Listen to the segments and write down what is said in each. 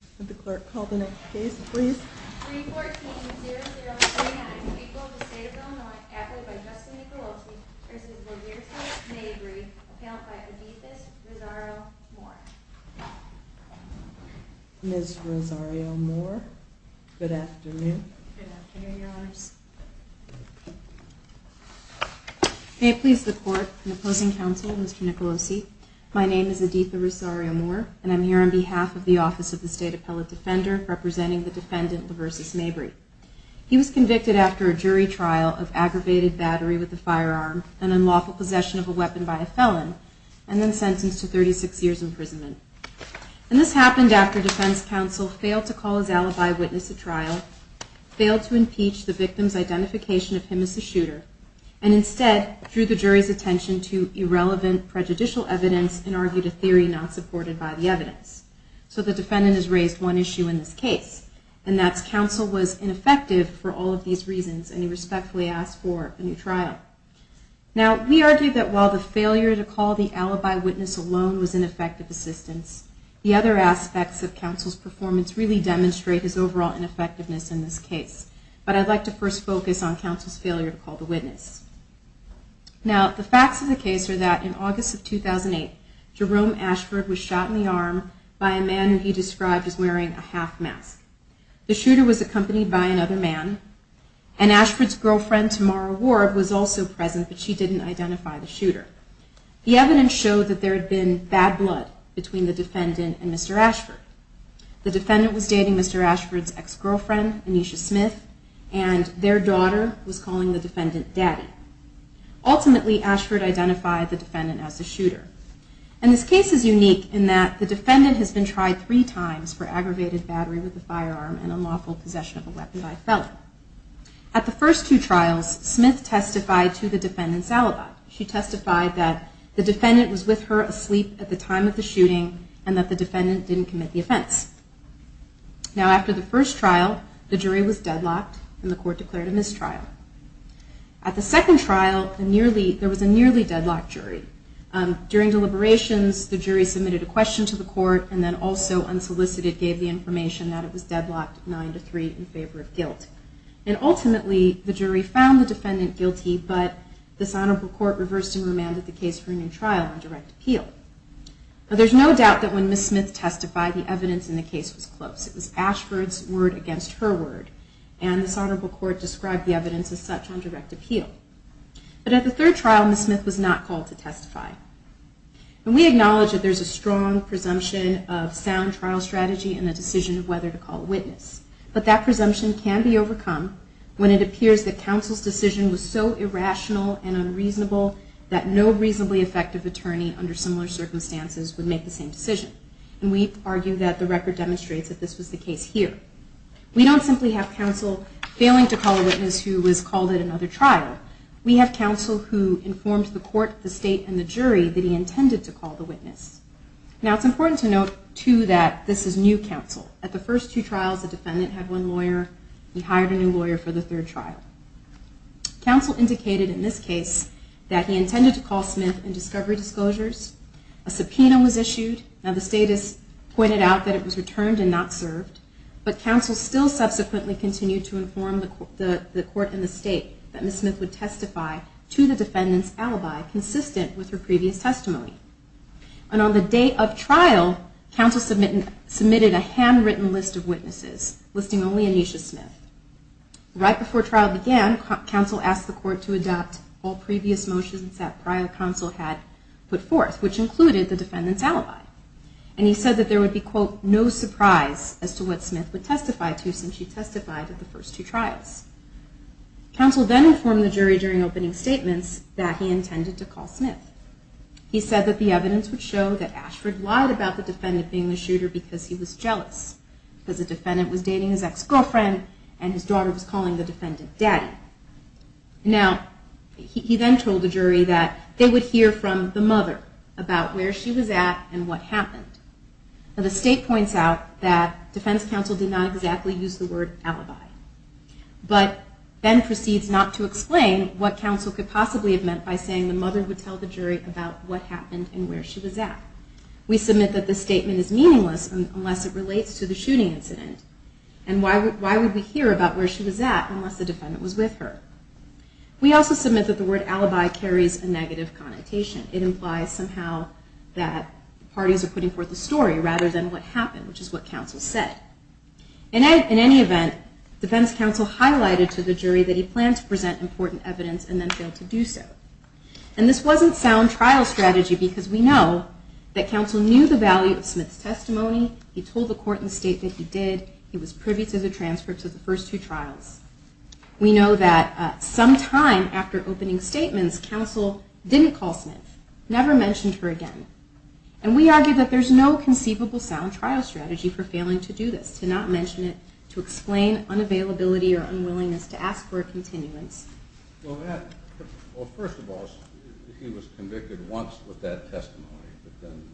May I have the clerk call the next case please? 314-0039, Equal to State of Illinois, appellate by Justin Nicolosi v. Laverta Mabry, appellant by Editha Rosario-Moore. Ms. Rosario-Moore, good afternoon. Good afternoon, Your Honors. May it please the court and opposing counsel, Mr. Nicolosi, my name is Editha Rosario-Moore and I'm here on behalf of the Office of the State Appellate Defender representing the defendant Laversa Mabry. He was convicted after a jury trial of aggravated battery with a firearm, an unlawful possession of a weapon by a felon, and then sentenced to 36 years imprisonment. And this happened after defense counsel failed to call his alibi witness at trial, failed to impeach the victim's identification of him as a shooter, and instead drew the jury's attention to irrelevant prejudicial evidence and argued a theory not supported by the evidence. So the defendant has raised one issue in this case, and that's counsel was ineffective for all of these reasons and he respectfully asked for a new trial. Now, we argue that while the failure to call the alibi witness alone was ineffective assistance, the other aspects of counsel's performance really demonstrate his overall ineffectiveness in this case. But I'd like to first focus on counsel's failure to call the witness. Now, the facts of the case are that in August of 2008, Jerome Ashford was shot in the arm by a man he described as wearing a half mask. The shooter was accompanied by another man, and Ashford's girlfriend, Tamara Ward, was also present, but she didn't identify the shooter. The evidence showed that there had been bad blood between the defendant and Mr. Ashford. The defendant was dating Mr. Ashford's ex-girlfriend, Anisha Smith, and their daughter was calling the defendant Daddy. Ultimately, Ashford identified the defendant as the shooter. And this case is unique in that the defendant has been tried three times for aggravated battery with a firearm and unlawful possession of a weapon by a felon. At the first two trials, Smith testified to the defendant's alibi. She testified that the defendant was with her asleep at the time of the shooting and that the defendant didn't commit the offense. Now, after the first trial, the jury was deadlocked and the court declared a mistrial. At the second trial, there was a nearly deadlocked jury. During deliberations, the jury submitted a question to the court and then also, unsolicited, gave the information that it was deadlocked nine to three in favor of guilt. And ultimately, the jury found the defendant guilty, but this honorable court reversed and remanded the case for a new trial on direct appeal. Now, there's no doubt that when Ms. Smith testified, the evidence in the case was close. It was Ashford's word against her word, and this honorable court described the evidence as such on direct appeal. But at the third trial, Ms. Smith was not called to testify. And we acknowledge that there's a strong presumption of sound trial strategy in the decision of whether to call a witness, but that presumption can be overcome when it appears that counsel's decision was so irrational and unreasonable that no reasonably effective attorney under similar circumstances would make the same decision. And we argue that the record demonstrates that this was the case here. We don't simply have counsel failing to call a witness who was called at another trial. We have counsel who informed the court, the state, and the jury that he intended to call the witness. Now, it's important to note, too, that this is new counsel. At the first two trials, the defendant had one lawyer. He hired a new lawyer for the third trial. Counsel indicated in this case that he intended to call Smith in discovery disclosures. A subpoena was issued. Now, the status pointed out that it was returned and not served. But counsel still subsequently continued to inform the court and the state that Ms. Smith would testify to the defendant's alibi, consistent with her previous testimony. And on the day of trial, counsel submitted a handwritten list of witnesses, listing only Aneesha Smith. Right before trial began, counsel asked the court to adopt all previous motions that prior counsel had put forth, which included the defendant's alibi. And he said that there would be, quote, no surprise as to what Smith would testify to since she testified at the first two trials. Counsel then informed the jury during opening statements that he intended to call Smith. He said that the evidence would show that Ashford lied about the defendant being the shooter because he was jealous, because the defendant was dating his ex-girlfriend and his daughter was calling the defendant daddy. Now, he then told the jury that they would hear from the mother about where she was at and what happened. Now, the state points out that defense counsel did not exactly use the word alibi, but then proceeds not to explain what counsel could possibly have meant by saying the mother would tell the jury about what happened and where she was at. We submit that the statement is meaningless unless it relates to the shooting incident. And why would we hear about where she was at unless the defendant was with her? We also submit that the word alibi carries a negative connotation. It implies somehow that parties are putting forth a story rather than what happened, which is what counsel said. In any event, defense counsel highlighted to the jury that he planned to present important evidence and then failed to do so. And this wasn't sound trial strategy because we know that counsel knew the value of Smith's testimony. He told the court in the state that he did. He was privy to the transfer to the first two trials. We know that sometime after opening statements, counsel didn't call Smith, never mentioned her again. And we argue that there's no conceivable sound trial strategy for failing to do this, to not mention it, to explain unavailability or unwillingness to ask for a continuance. Well, first of all, he was convicted once with that testimony, but then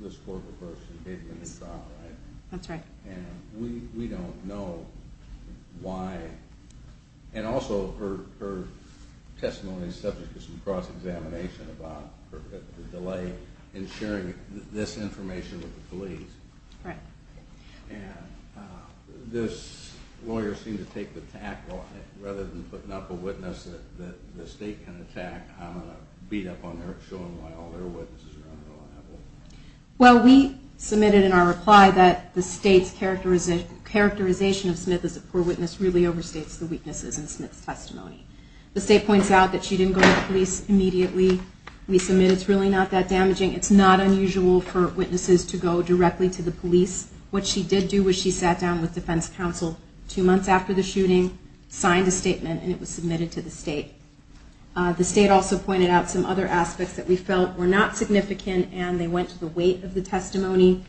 this court reversed and gave him the trial, right? That's right. And we don't know why. And also, her testimony is subject to some cross-examination about the delay in sharing this information with the police. Right. And this lawyer seemed to take the tack on it. Rather than putting up a witness that the state can attack, I'm going to beat up on her, showing why all their witnesses are unreliable. Well, we submitted in our reply that the state's characterization of Smith as a poor witness really overstates the weaknesses in Smith's testimony. The state points out that she didn't go to the police immediately. We submit it's really not that damaging. It's not unusual for witnesses to go directly to the police. What she did do was she sat down with defense counsel two months after the shooting, signed a statement, and it was submitted to the state. The state also pointed out some other aspects that we felt were not significant, and they went to the weight of the testimony.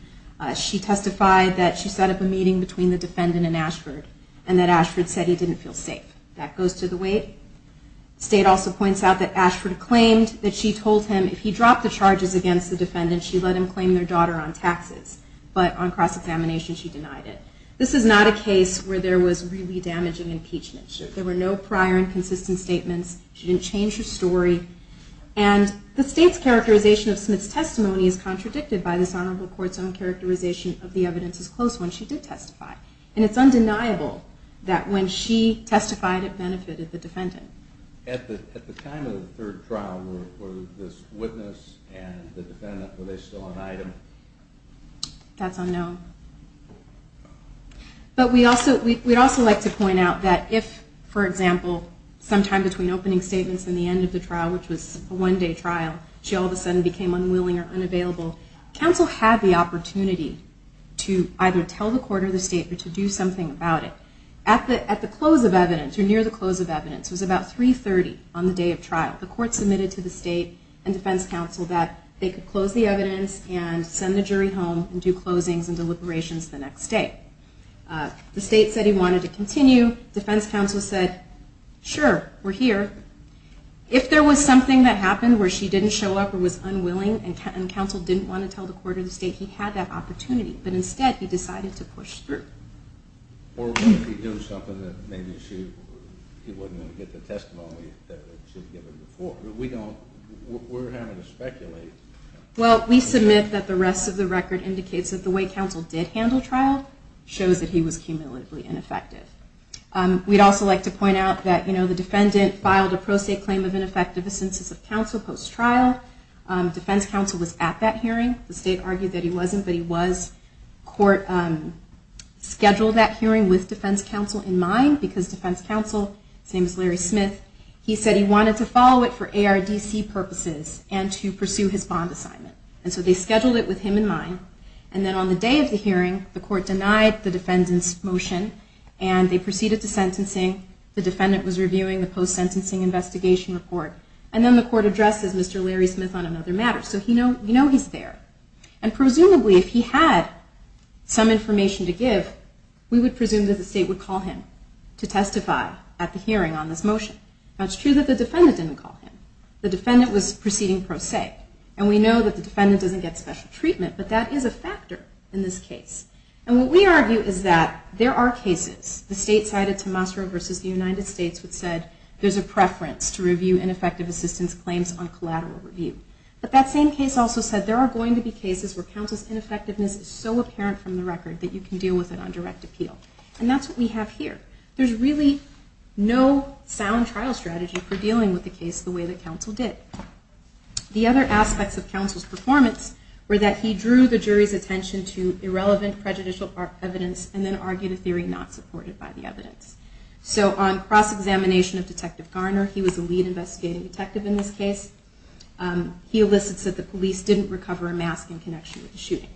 She testified that she set up a meeting between the defendant and Ashford, and that Ashford said he didn't feel safe. That goes to the weight. The state also points out that Ashford claimed that she told him if he dropped the charges against the defendant, she let him claim their daughter on taxes. But on cross-examination, she denied it. This is not a case where there was really damaging impeachment. There were no prior and consistent statements. She didn't change her story. And the state's characterization of Smith's testimony is contradicted by this honorable court's own characterization of the evidence as close when she did testify. And it's undeniable that when she testified, it benefited the defendant. At the time of the third trial, were this witness and the defendant still an item? That's unknown. But we'd also like to point out that if, for example, sometime between opening statements and the end of the trial, which was a one-day trial, she all of a sudden became unwilling or unavailable, counsel had the opportunity to either tell the court or the state to do something about it. At the close of evidence, or near the close of evidence, it was about 3.30 on the day of trial, the court submitted to the state and defense counsel that they could close the evidence and send the jury home and do closings and deliberations the next day. The state said he wanted to continue. Defense counsel said, sure, we're here. If there was something that happened where she didn't show up or was unwilling, and counsel didn't want to tell the court or the state, he had that opportunity. But instead, he decided to push through. Or maybe he knew something that maybe he wasn't going to get the testimony that he should have given before. We're having to speculate. Well, we submit that the rest of the record indicates that the way counsel did handle trial shows that he was cumulatively ineffective. We'd also like to point out that the defendant filed a pro se claim of ineffective assistance of counsel post-trial. Defense counsel was at that hearing. The state argued that he wasn't, but he was. Court scheduled that hearing with defense counsel in mind, because defense counsel, same as Larry Smith, he said he wanted to follow it for ARDC purposes and to pursue his bond assignment. And so they scheduled it with him in mind. And then on the day of the hearing, the court denied the defendant's motion. And they proceeded to sentencing. The defendant was reviewing the post-sentencing investigation report. And then the court addresses Mr. Larry Smith on another matter. So we know he's there. And presumably, if he had some information to give, we would presume that the state would call him to testify at the hearing on this motion. Now, it's true that the defendant didn't call him. The defendant was proceeding pro se. And we know that the defendant doesn't get special treatment. But that is a factor in this case. And what we argue is that there are cases, the state-sided Tomasso versus the United States, which said there's a preference to review ineffective assistance claims on collateral review. But that same case also said there are going to be cases where counsel's ineffectiveness is so apparent from the record that you can deal with it on direct appeal. And that's what we have here. There's really no sound trial strategy for dealing with the case the way that counsel did. The other aspects of counsel's performance were that he drew the jury's attention to irrelevant prejudicial evidence and then argued a theory not supported by the evidence. So on cross-examination of Detective Garner, he was the lead investigating detective in this case, he elicits that the police didn't recover a mask in connection with the shooting.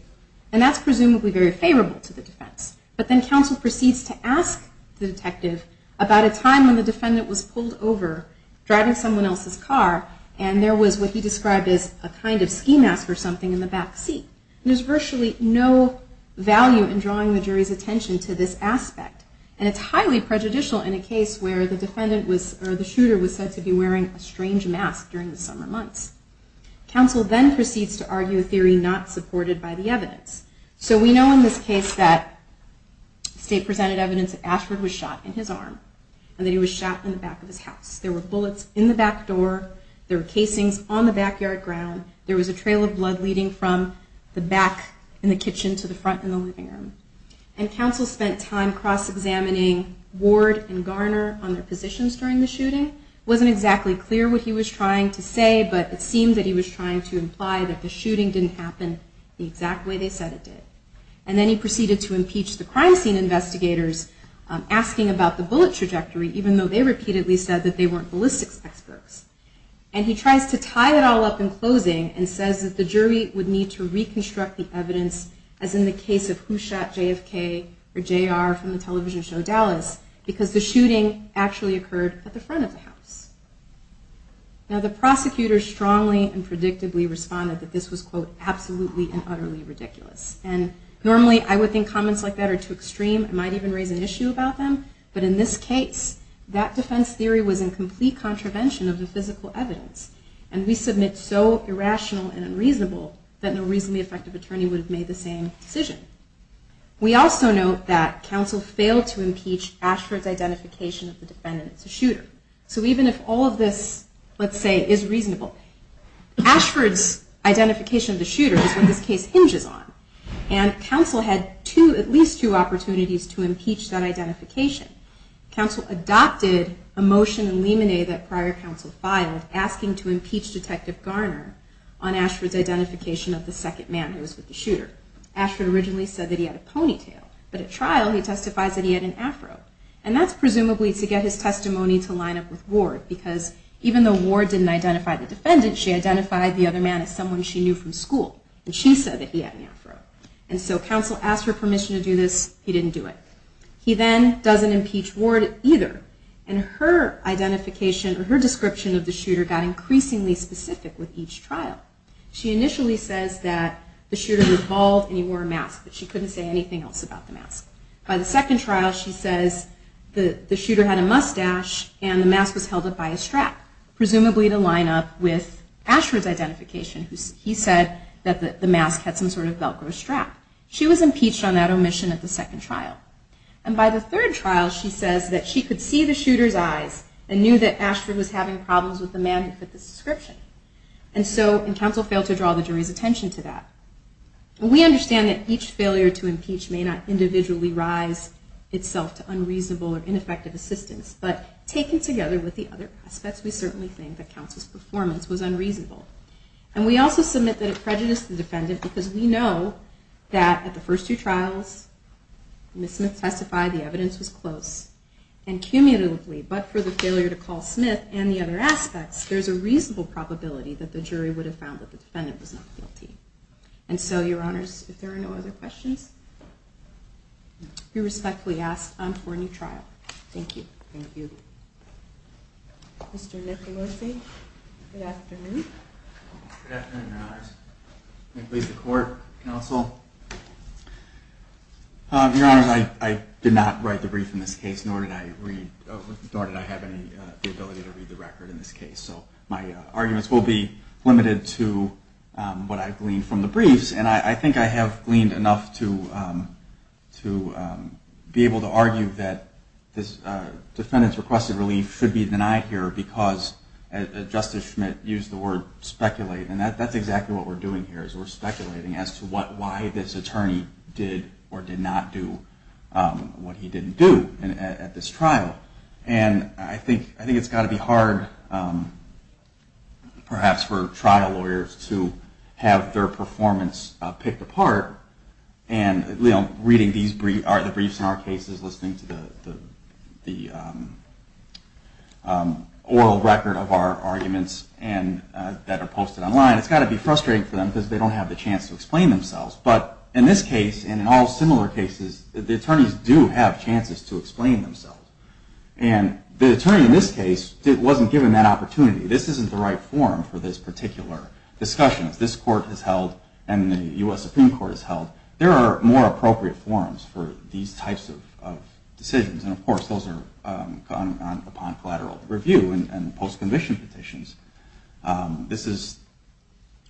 And that's presumably very favorable to the defense. But then counsel proceeds to ask the detective about a time when the defendant was pulled over, driving someone else's car, and there was what he described as a kind of ski mask or something in the back seat. And there's virtually no value in drawing the jury's attention to this aspect. And it's highly prejudicial in a case where the shooter was said to be wearing a strange mask during the summer months. Counsel then proceeds to argue a theory not supported by the evidence. So we know in this case that the state presented evidence that Ashford was shot in his arm and that he was shot in the back of his house. There were bullets in the back door. There were casings on the backyard ground. There was a trail of blood leading from the back in the kitchen to the front in the living room. And counsel spent time cross-examining Ward and Garner on their positions during the shooting. It wasn't exactly clear what he was trying to say, but it seemed that he was trying to imply that the shooting didn't happen the exact way they said it did. And then he proceeded to impeach the crime scene investigators, asking about the bullet trajectory, even though they repeatedly said that they weren't ballistics experts. And he tries to tie it all up in closing and says that the jury would need to reconstruct the evidence as in the case of who shot JFK or JR from the television show Dallas, because the shooting actually occurred at the front of the house. Now the prosecutor strongly and predictably responded that this was, quote, absolutely and utterly ridiculous. And normally I would think comments like that are too extreme. It might even raise an issue about them. But in this case, that defense theory was in complete contravention of the physical evidence. And we submit so irrational and unreasonable that no reasonably effective attorney would have made the same decision. We also note that counsel failed to impeach Ashford's identification of the defendant as a shooter. So even if all of this, let's say, is reasonable, Ashford's identification of the shooter is what this case hinges on. And counsel had at least two opportunities to impeach that identification. Counsel adopted a motion in Limine that prior counsel filed asking to impeach Detective Garner on Ashford's identification of the second man who was with the shooter. Ashford originally said that he had a ponytail. But at trial, he testifies that he had an afro. And that's presumably to get his testimony to line up with Ward, because even though Ward didn't identify the defendant, she identified the other man as someone she knew from school. And she said that he had an afro. And so counsel asked for permission to do this. He didn't do it. He then doesn't impeach Ward either. And her identification or her description of the shooter got increasingly specific with each trial. She initially says that the shooter was bald and he wore a mask. But she couldn't say anything else about the mask. By the second trial, she says the shooter had a mustache and the mask was held up by a strap, presumably to line up with Ashford's identification. He said that the mask had some sort of velcro strap. She was impeached on that omission at the second trial. And by the third trial, she says that she could see the shooter's eyes and knew that Ashford was having problems with the man who fit the description. And so counsel failed to draw the jury's attention to that. We understand that each failure to impeach may not individually rise itself to unreasonable or ineffective assistance. But taken together with the other prospects, we certainly think that counsel's performance was unreasonable. And we also submit that it prejudiced the defendant because we know that at the first two trials, Ms. Smith testified the evidence was close. And cumulatively, but for the failure to call Smith and the other aspects, there's a reasonable probability that the jury would have found that the defendant was not guilty. And so, Your Honors, if there are no other questions, we respectfully ask for a new trial. Thank you. Thank you. Mr. Nicolosi, good afternoon. Good afternoon, Your Honors. May it please the Court, counsel. Your Honors, I did not write the brief in this case, nor did I have the ability to read the record in this case. So my arguments will be limited to what I gleaned from the briefs. And I think I have gleaned enough to be able to argue that this defendant's requested relief should be denied here because Justice Schmidt used the word speculate. And that's exactly what we're doing here, is we're speculating as to why this attorney did or did not do what he didn't do at this trial. And I think it's got to be hard perhaps for trial lawyers to have their performance picked apart. And reading the briefs in our cases, listening to the oral record of our arguments that are posted online, it's got to be frustrating for them because they don't have the chance to explain themselves. But in this case, and in all similar cases, the attorneys do have chances to explain themselves. And the attorney in this case wasn't given that opportunity. This isn't the right forum for this particular discussion. As this court has held and the U.S. Supreme Court has held, there are more appropriate forums for these types of decisions. And, of course, those are gone upon collateral review and post-conviction petitions.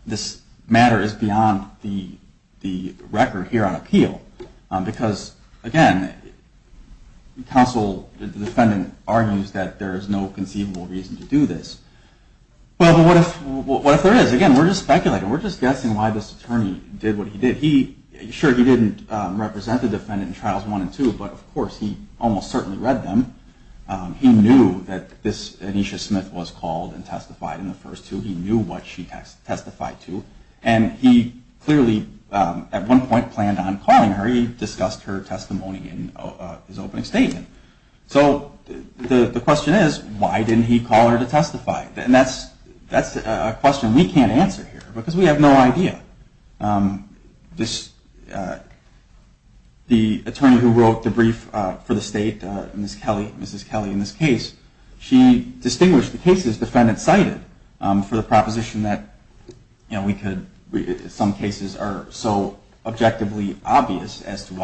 This matter is beyond the record here on appeal because, again, the counsel, the defendant, argues that there is no conceivable reason to do this. But what if there is? Because, again, we're just speculating. We're just guessing why this attorney did what he did. Sure, he didn't represent the defendant in Trials 1 and 2, but, of course, he almost certainly read them. He knew that Anisha Smith was called and testified in the first two. He knew what she testified to. And he clearly, at one point, planned on calling her. He discussed her testimony in his opening statement. So the question is, why didn't he call her to testify? And that's a question we can't answer here because we have no idea. The attorney who wrote the brief for the state, Mrs. Kelly, in this case, she distinguished the cases the defendant cited for the proposition that some cases are so objectively obvious as to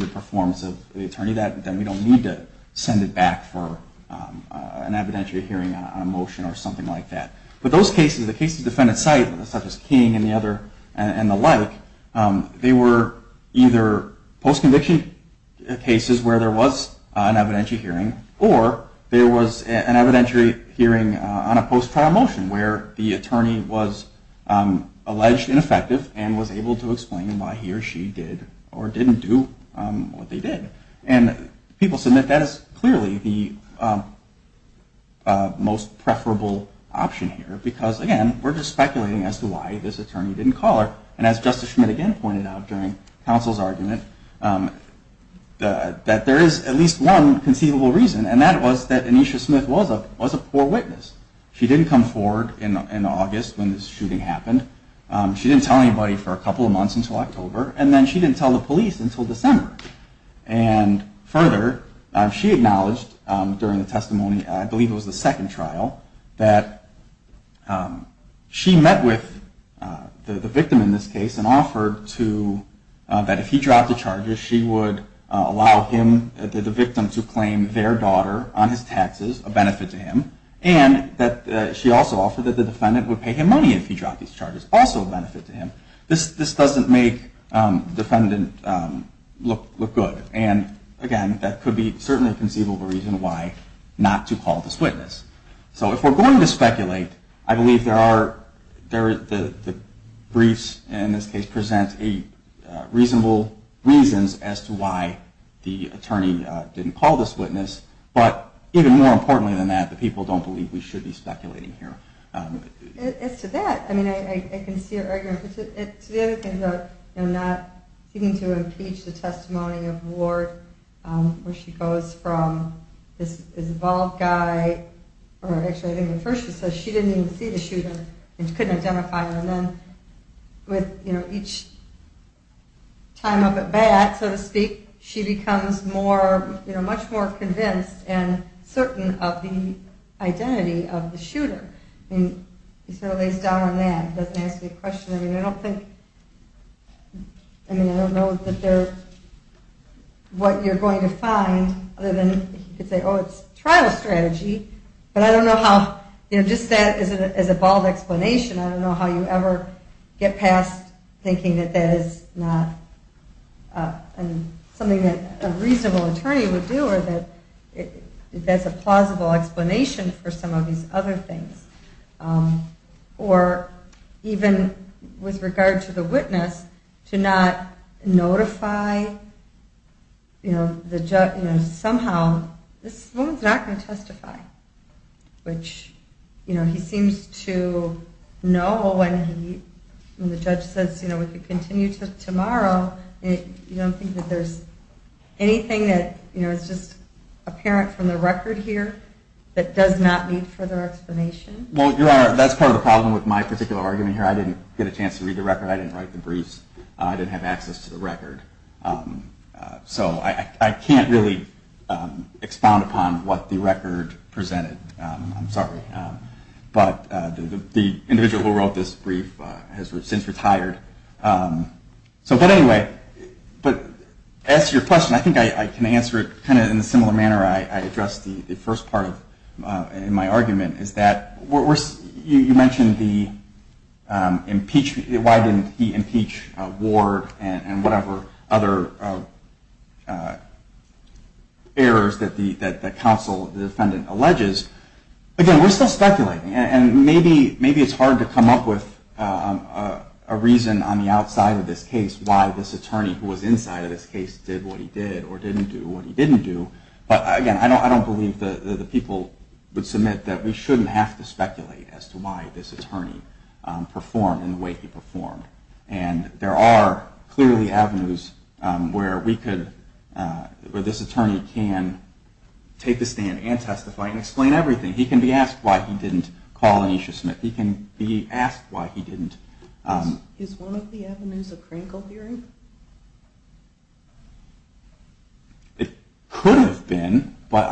the performance of the attorney that we don't need to send it back for an evidentiary hearing on a motion or something like that. But those cases, the cases the defendant cited, such as King and the like, they were either post-conviction cases where there was an evidentiary hearing or there was an evidentiary hearing on a post-trial motion where the attorney was alleged ineffective and was able to explain why he or she did or didn't do what they did. And people said that that is clearly the most preferable option here because, again, we're just speculating as to why this attorney didn't call her. And as Justice Schmidt again pointed out during counsel's argument, that there is at least one conceivable reason, and that was that Anisha Smith was a poor witness. She didn't come forward in August when this shooting happened. She didn't tell anybody for a couple of months until October, and then she didn't tell the police until December. And further, she acknowledged during the testimony, I believe it was the second trial, that she met with the victim in this case and offered that if he dropped the charges, she would allow the victim to claim their daughter on his taxes, a benefit to him, and that she also offered that the defendant would pay him money if he dropped these charges, also a benefit to him. This doesn't make the defendant look good. And, again, that could be certainly conceivable reason why not to call this witness. So if we're going to speculate, I believe the briefs in this case present reasonable reasons as to why the attorney didn't call this witness. But even more importantly than that, the people don't believe we should be speculating here. As to that, I mean, I can see your argument. To the other thing, though, I'm not seeking to impeach the testimony of Ward, where she goes from this involved guy, or actually I think at first she says she didn't even see the shooting and couldn't identify him, and then with each time of it back, so to speak, she becomes more, you know, much more convinced and certain of the identity of the shooter. I mean, he sort of lays down on that. He doesn't ask me a question. I mean, I don't think, I mean, I don't know that they're, what you're going to find other than he could say, oh, it's trial strategy, but I don't know how, you know, just that as a bald explanation, I don't know how you ever get past thinking that that is not something that a reasonable attorney would do or that that's a plausible explanation for some of these other things. Or even with regard to the witness, to not notify, you know, somehow this woman's not going to testify, which, you know, he seems to know when the judge says, you know, we could continue to tomorrow, you don't think that there's anything that, you know, is just apparent from the record here that does not need further explanation? Well, Your Honor, that's part of the problem with my particular argument here. I didn't get a chance to read the record. I didn't write the briefs. I didn't have access to the record. So I can't really expound upon what the record presented. I'm sorry. But the individual who wrote this brief has since retired. So but anyway, but as to your question, I think I can answer it kind of in a similar manner I addressed the first part in my argument is that you mentioned why didn't he impeach Ward and whatever other errors that the counsel, the defendant, alleges. Again, we're still speculating. And maybe it's hard to come up with a reason on the outside of this case why this attorney who was inside of this case did what he did or didn't do what he didn't do. But, again, I don't believe the people would submit that we shouldn't have to see this attorney perform in the way he performed. And there are clearly avenues where we could, where this attorney can take the stand and testify and explain everything. He can be asked why he didn't call Aneesha Smith. He can be asked why he didn't. Is one of the avenues a Krinkle hearing? It could have been. But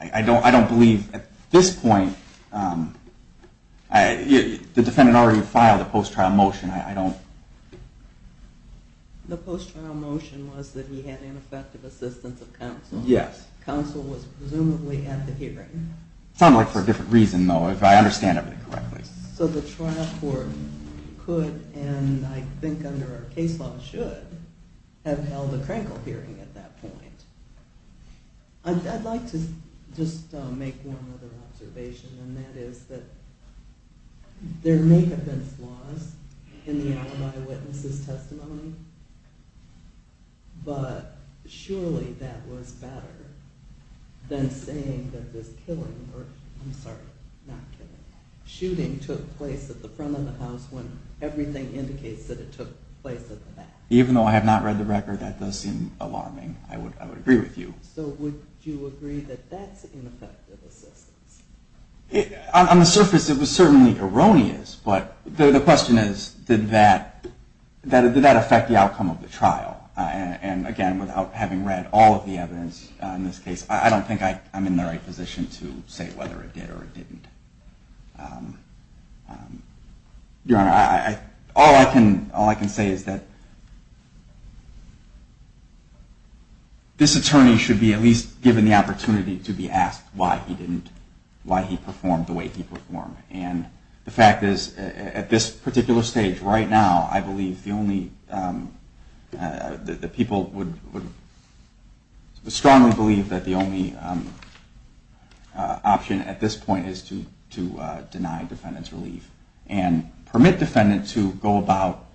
I don't believe at this point, the defendant already filed a post-trial motion. I don't. The post-trial motion was that he had ineffective assistance of counsel. Yes. Counsel was presumably at the hearing. Sounds like for a different reason, though, if I understand everything correctly. So the trial court could, and I think under our case law should, have held a hearing. I'd like to just make one other observation, and that is that there may have been flaws in the alibi witness' testimony, but surely that was better than saying that this killing, or I'm sorry, not killing, shooting took place at the front of the house when everything indicates that it took place at the back. Even though I have not read the record, that does seem alarming. I would agree with you. So would you agree that that's ineffective assistance? On the surface, it was certainly erroneous, but the question is, did that affect the outcome of the trial? And again, without having read all of the evidence on this case, I don't think I'm in the right position to say whether it did or it didn't. Your Honor, all I can say is that this attorney should be at least given the opportunity to be asked why he didn't, why he performed the way he performed. And the fact is, at this particular stage, right now, I believe the only, the people would strongly believe that the only option at this point is to give permission to deny defendant's relief and permit defendant to go about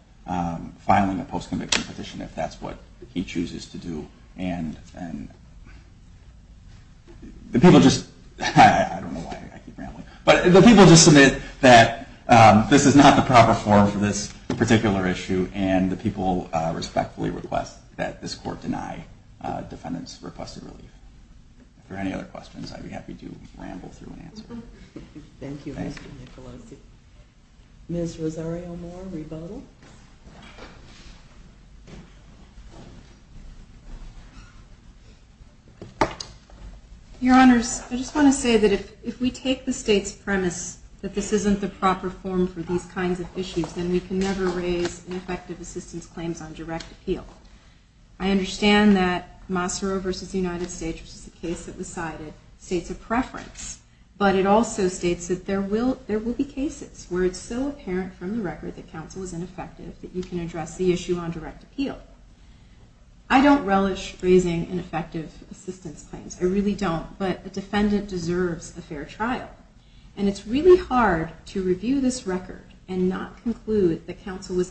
filing a post-conviction petition if that's what he chooses to do. And the people just, I don't know why I keep rambling, but the people just submit that this is not the proper form for this particular issue, and the people respectfully request that this court deny defendant's requested relief. If there are any other questions, I'd be happy to ramble through and answer. Thank you, Mr. Nicolosi. Ms. Rosario-Moore, rebuttal. Your Honors, I just want to say that if we take the state's premise that this isn't the proper form for these kinds of issues, then we can never raise ineffective assistance claims on direct appeal. I understand that Massaro v. United States, which is the case that was cited, states a preference. But it also states that there will be cases where it's so apparent from the record that counsel was ineffective that you can address the issue on direct appeal. I don't relish raising ineffective assistance claims. I really don't. But a defendant deserves a fair trial. And it's really hard to review this record and not conclude that counsel was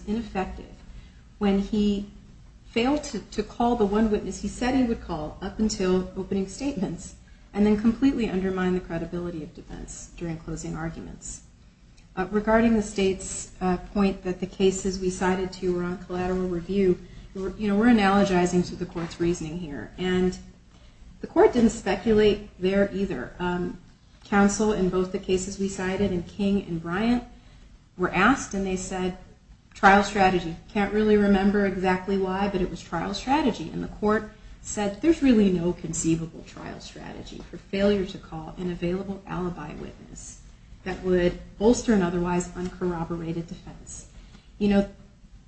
failed to call the one witness he said he would call up until opening statements, and then completely undermine the credibility of defense during closing arguments. Regarding the state's point that the cases we cited to you were on collateral review, we're analogizing to the court's reasoning here. And the court didn't speculate there either. Counsel in both the cases we cited in King and Bryant were asked, and they said, trial strategy. I can't really remember exactly why, but it was trial strategy. And the court said, there's really no conceivable trial strategy for failure to call an available alibi witness that would bolster an otherwise uncorroborated defense. You know,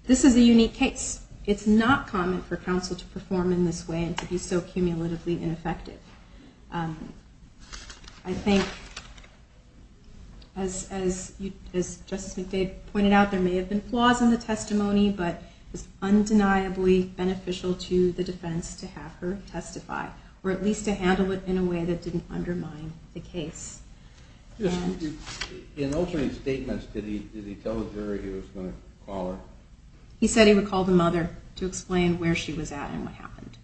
this is a unique case. It's not common for counsel to perform in this way and to be so cumulatively ineffective. I think, as Justice McDade pointed out, there may have been flaws in the testimony, but it was undeniably beneficial to the defense to have her testify, or at least to handle it in a way that didn't undermine the case. In opening statements, did he tell the jury he was going to call her? He said he would call the mother to explain where she was at and what happened.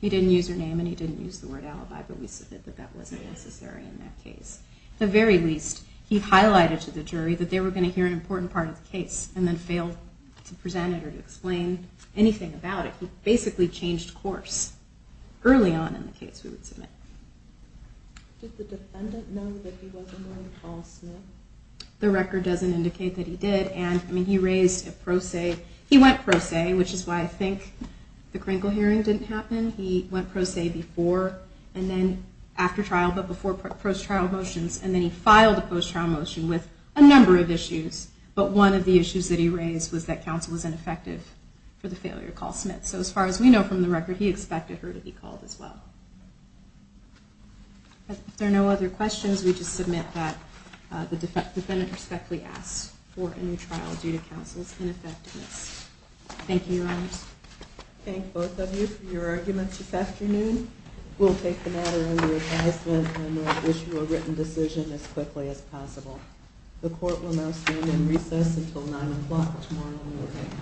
He didn't use her name and he didn't use the word alibi, but we said that that wasn't necessary in that case. At the very least, he highlighted to the jury that they were going to hear an attorney present it or to explain anything about it. He basically changed course early on in the case we would submit. Did the defendant know that he wasn't going to call Smith? The record doesn't indicate that he did. And, I mean, he raised a pro se. He went pro se, which is why I think the Kringle hearing didn't happen. He went pro se before and then after trial, but before post-trial motions, but one of the issues that he raised was that counsel was ineffective for the failure to call Smith. So as far as we know from the record, he expected her to be called as well. If there are no other questions, we just submit that the defendant respectfully asks for a new trial due to counsel's ineffectiveness. Thank you, Your Honors. Thank both of you for your arguments this afternoon. We'll take the matter under advisement and will issue a written decision as quickly as possible. The court will now stand in recess until 9 o'clock tomorrow morning.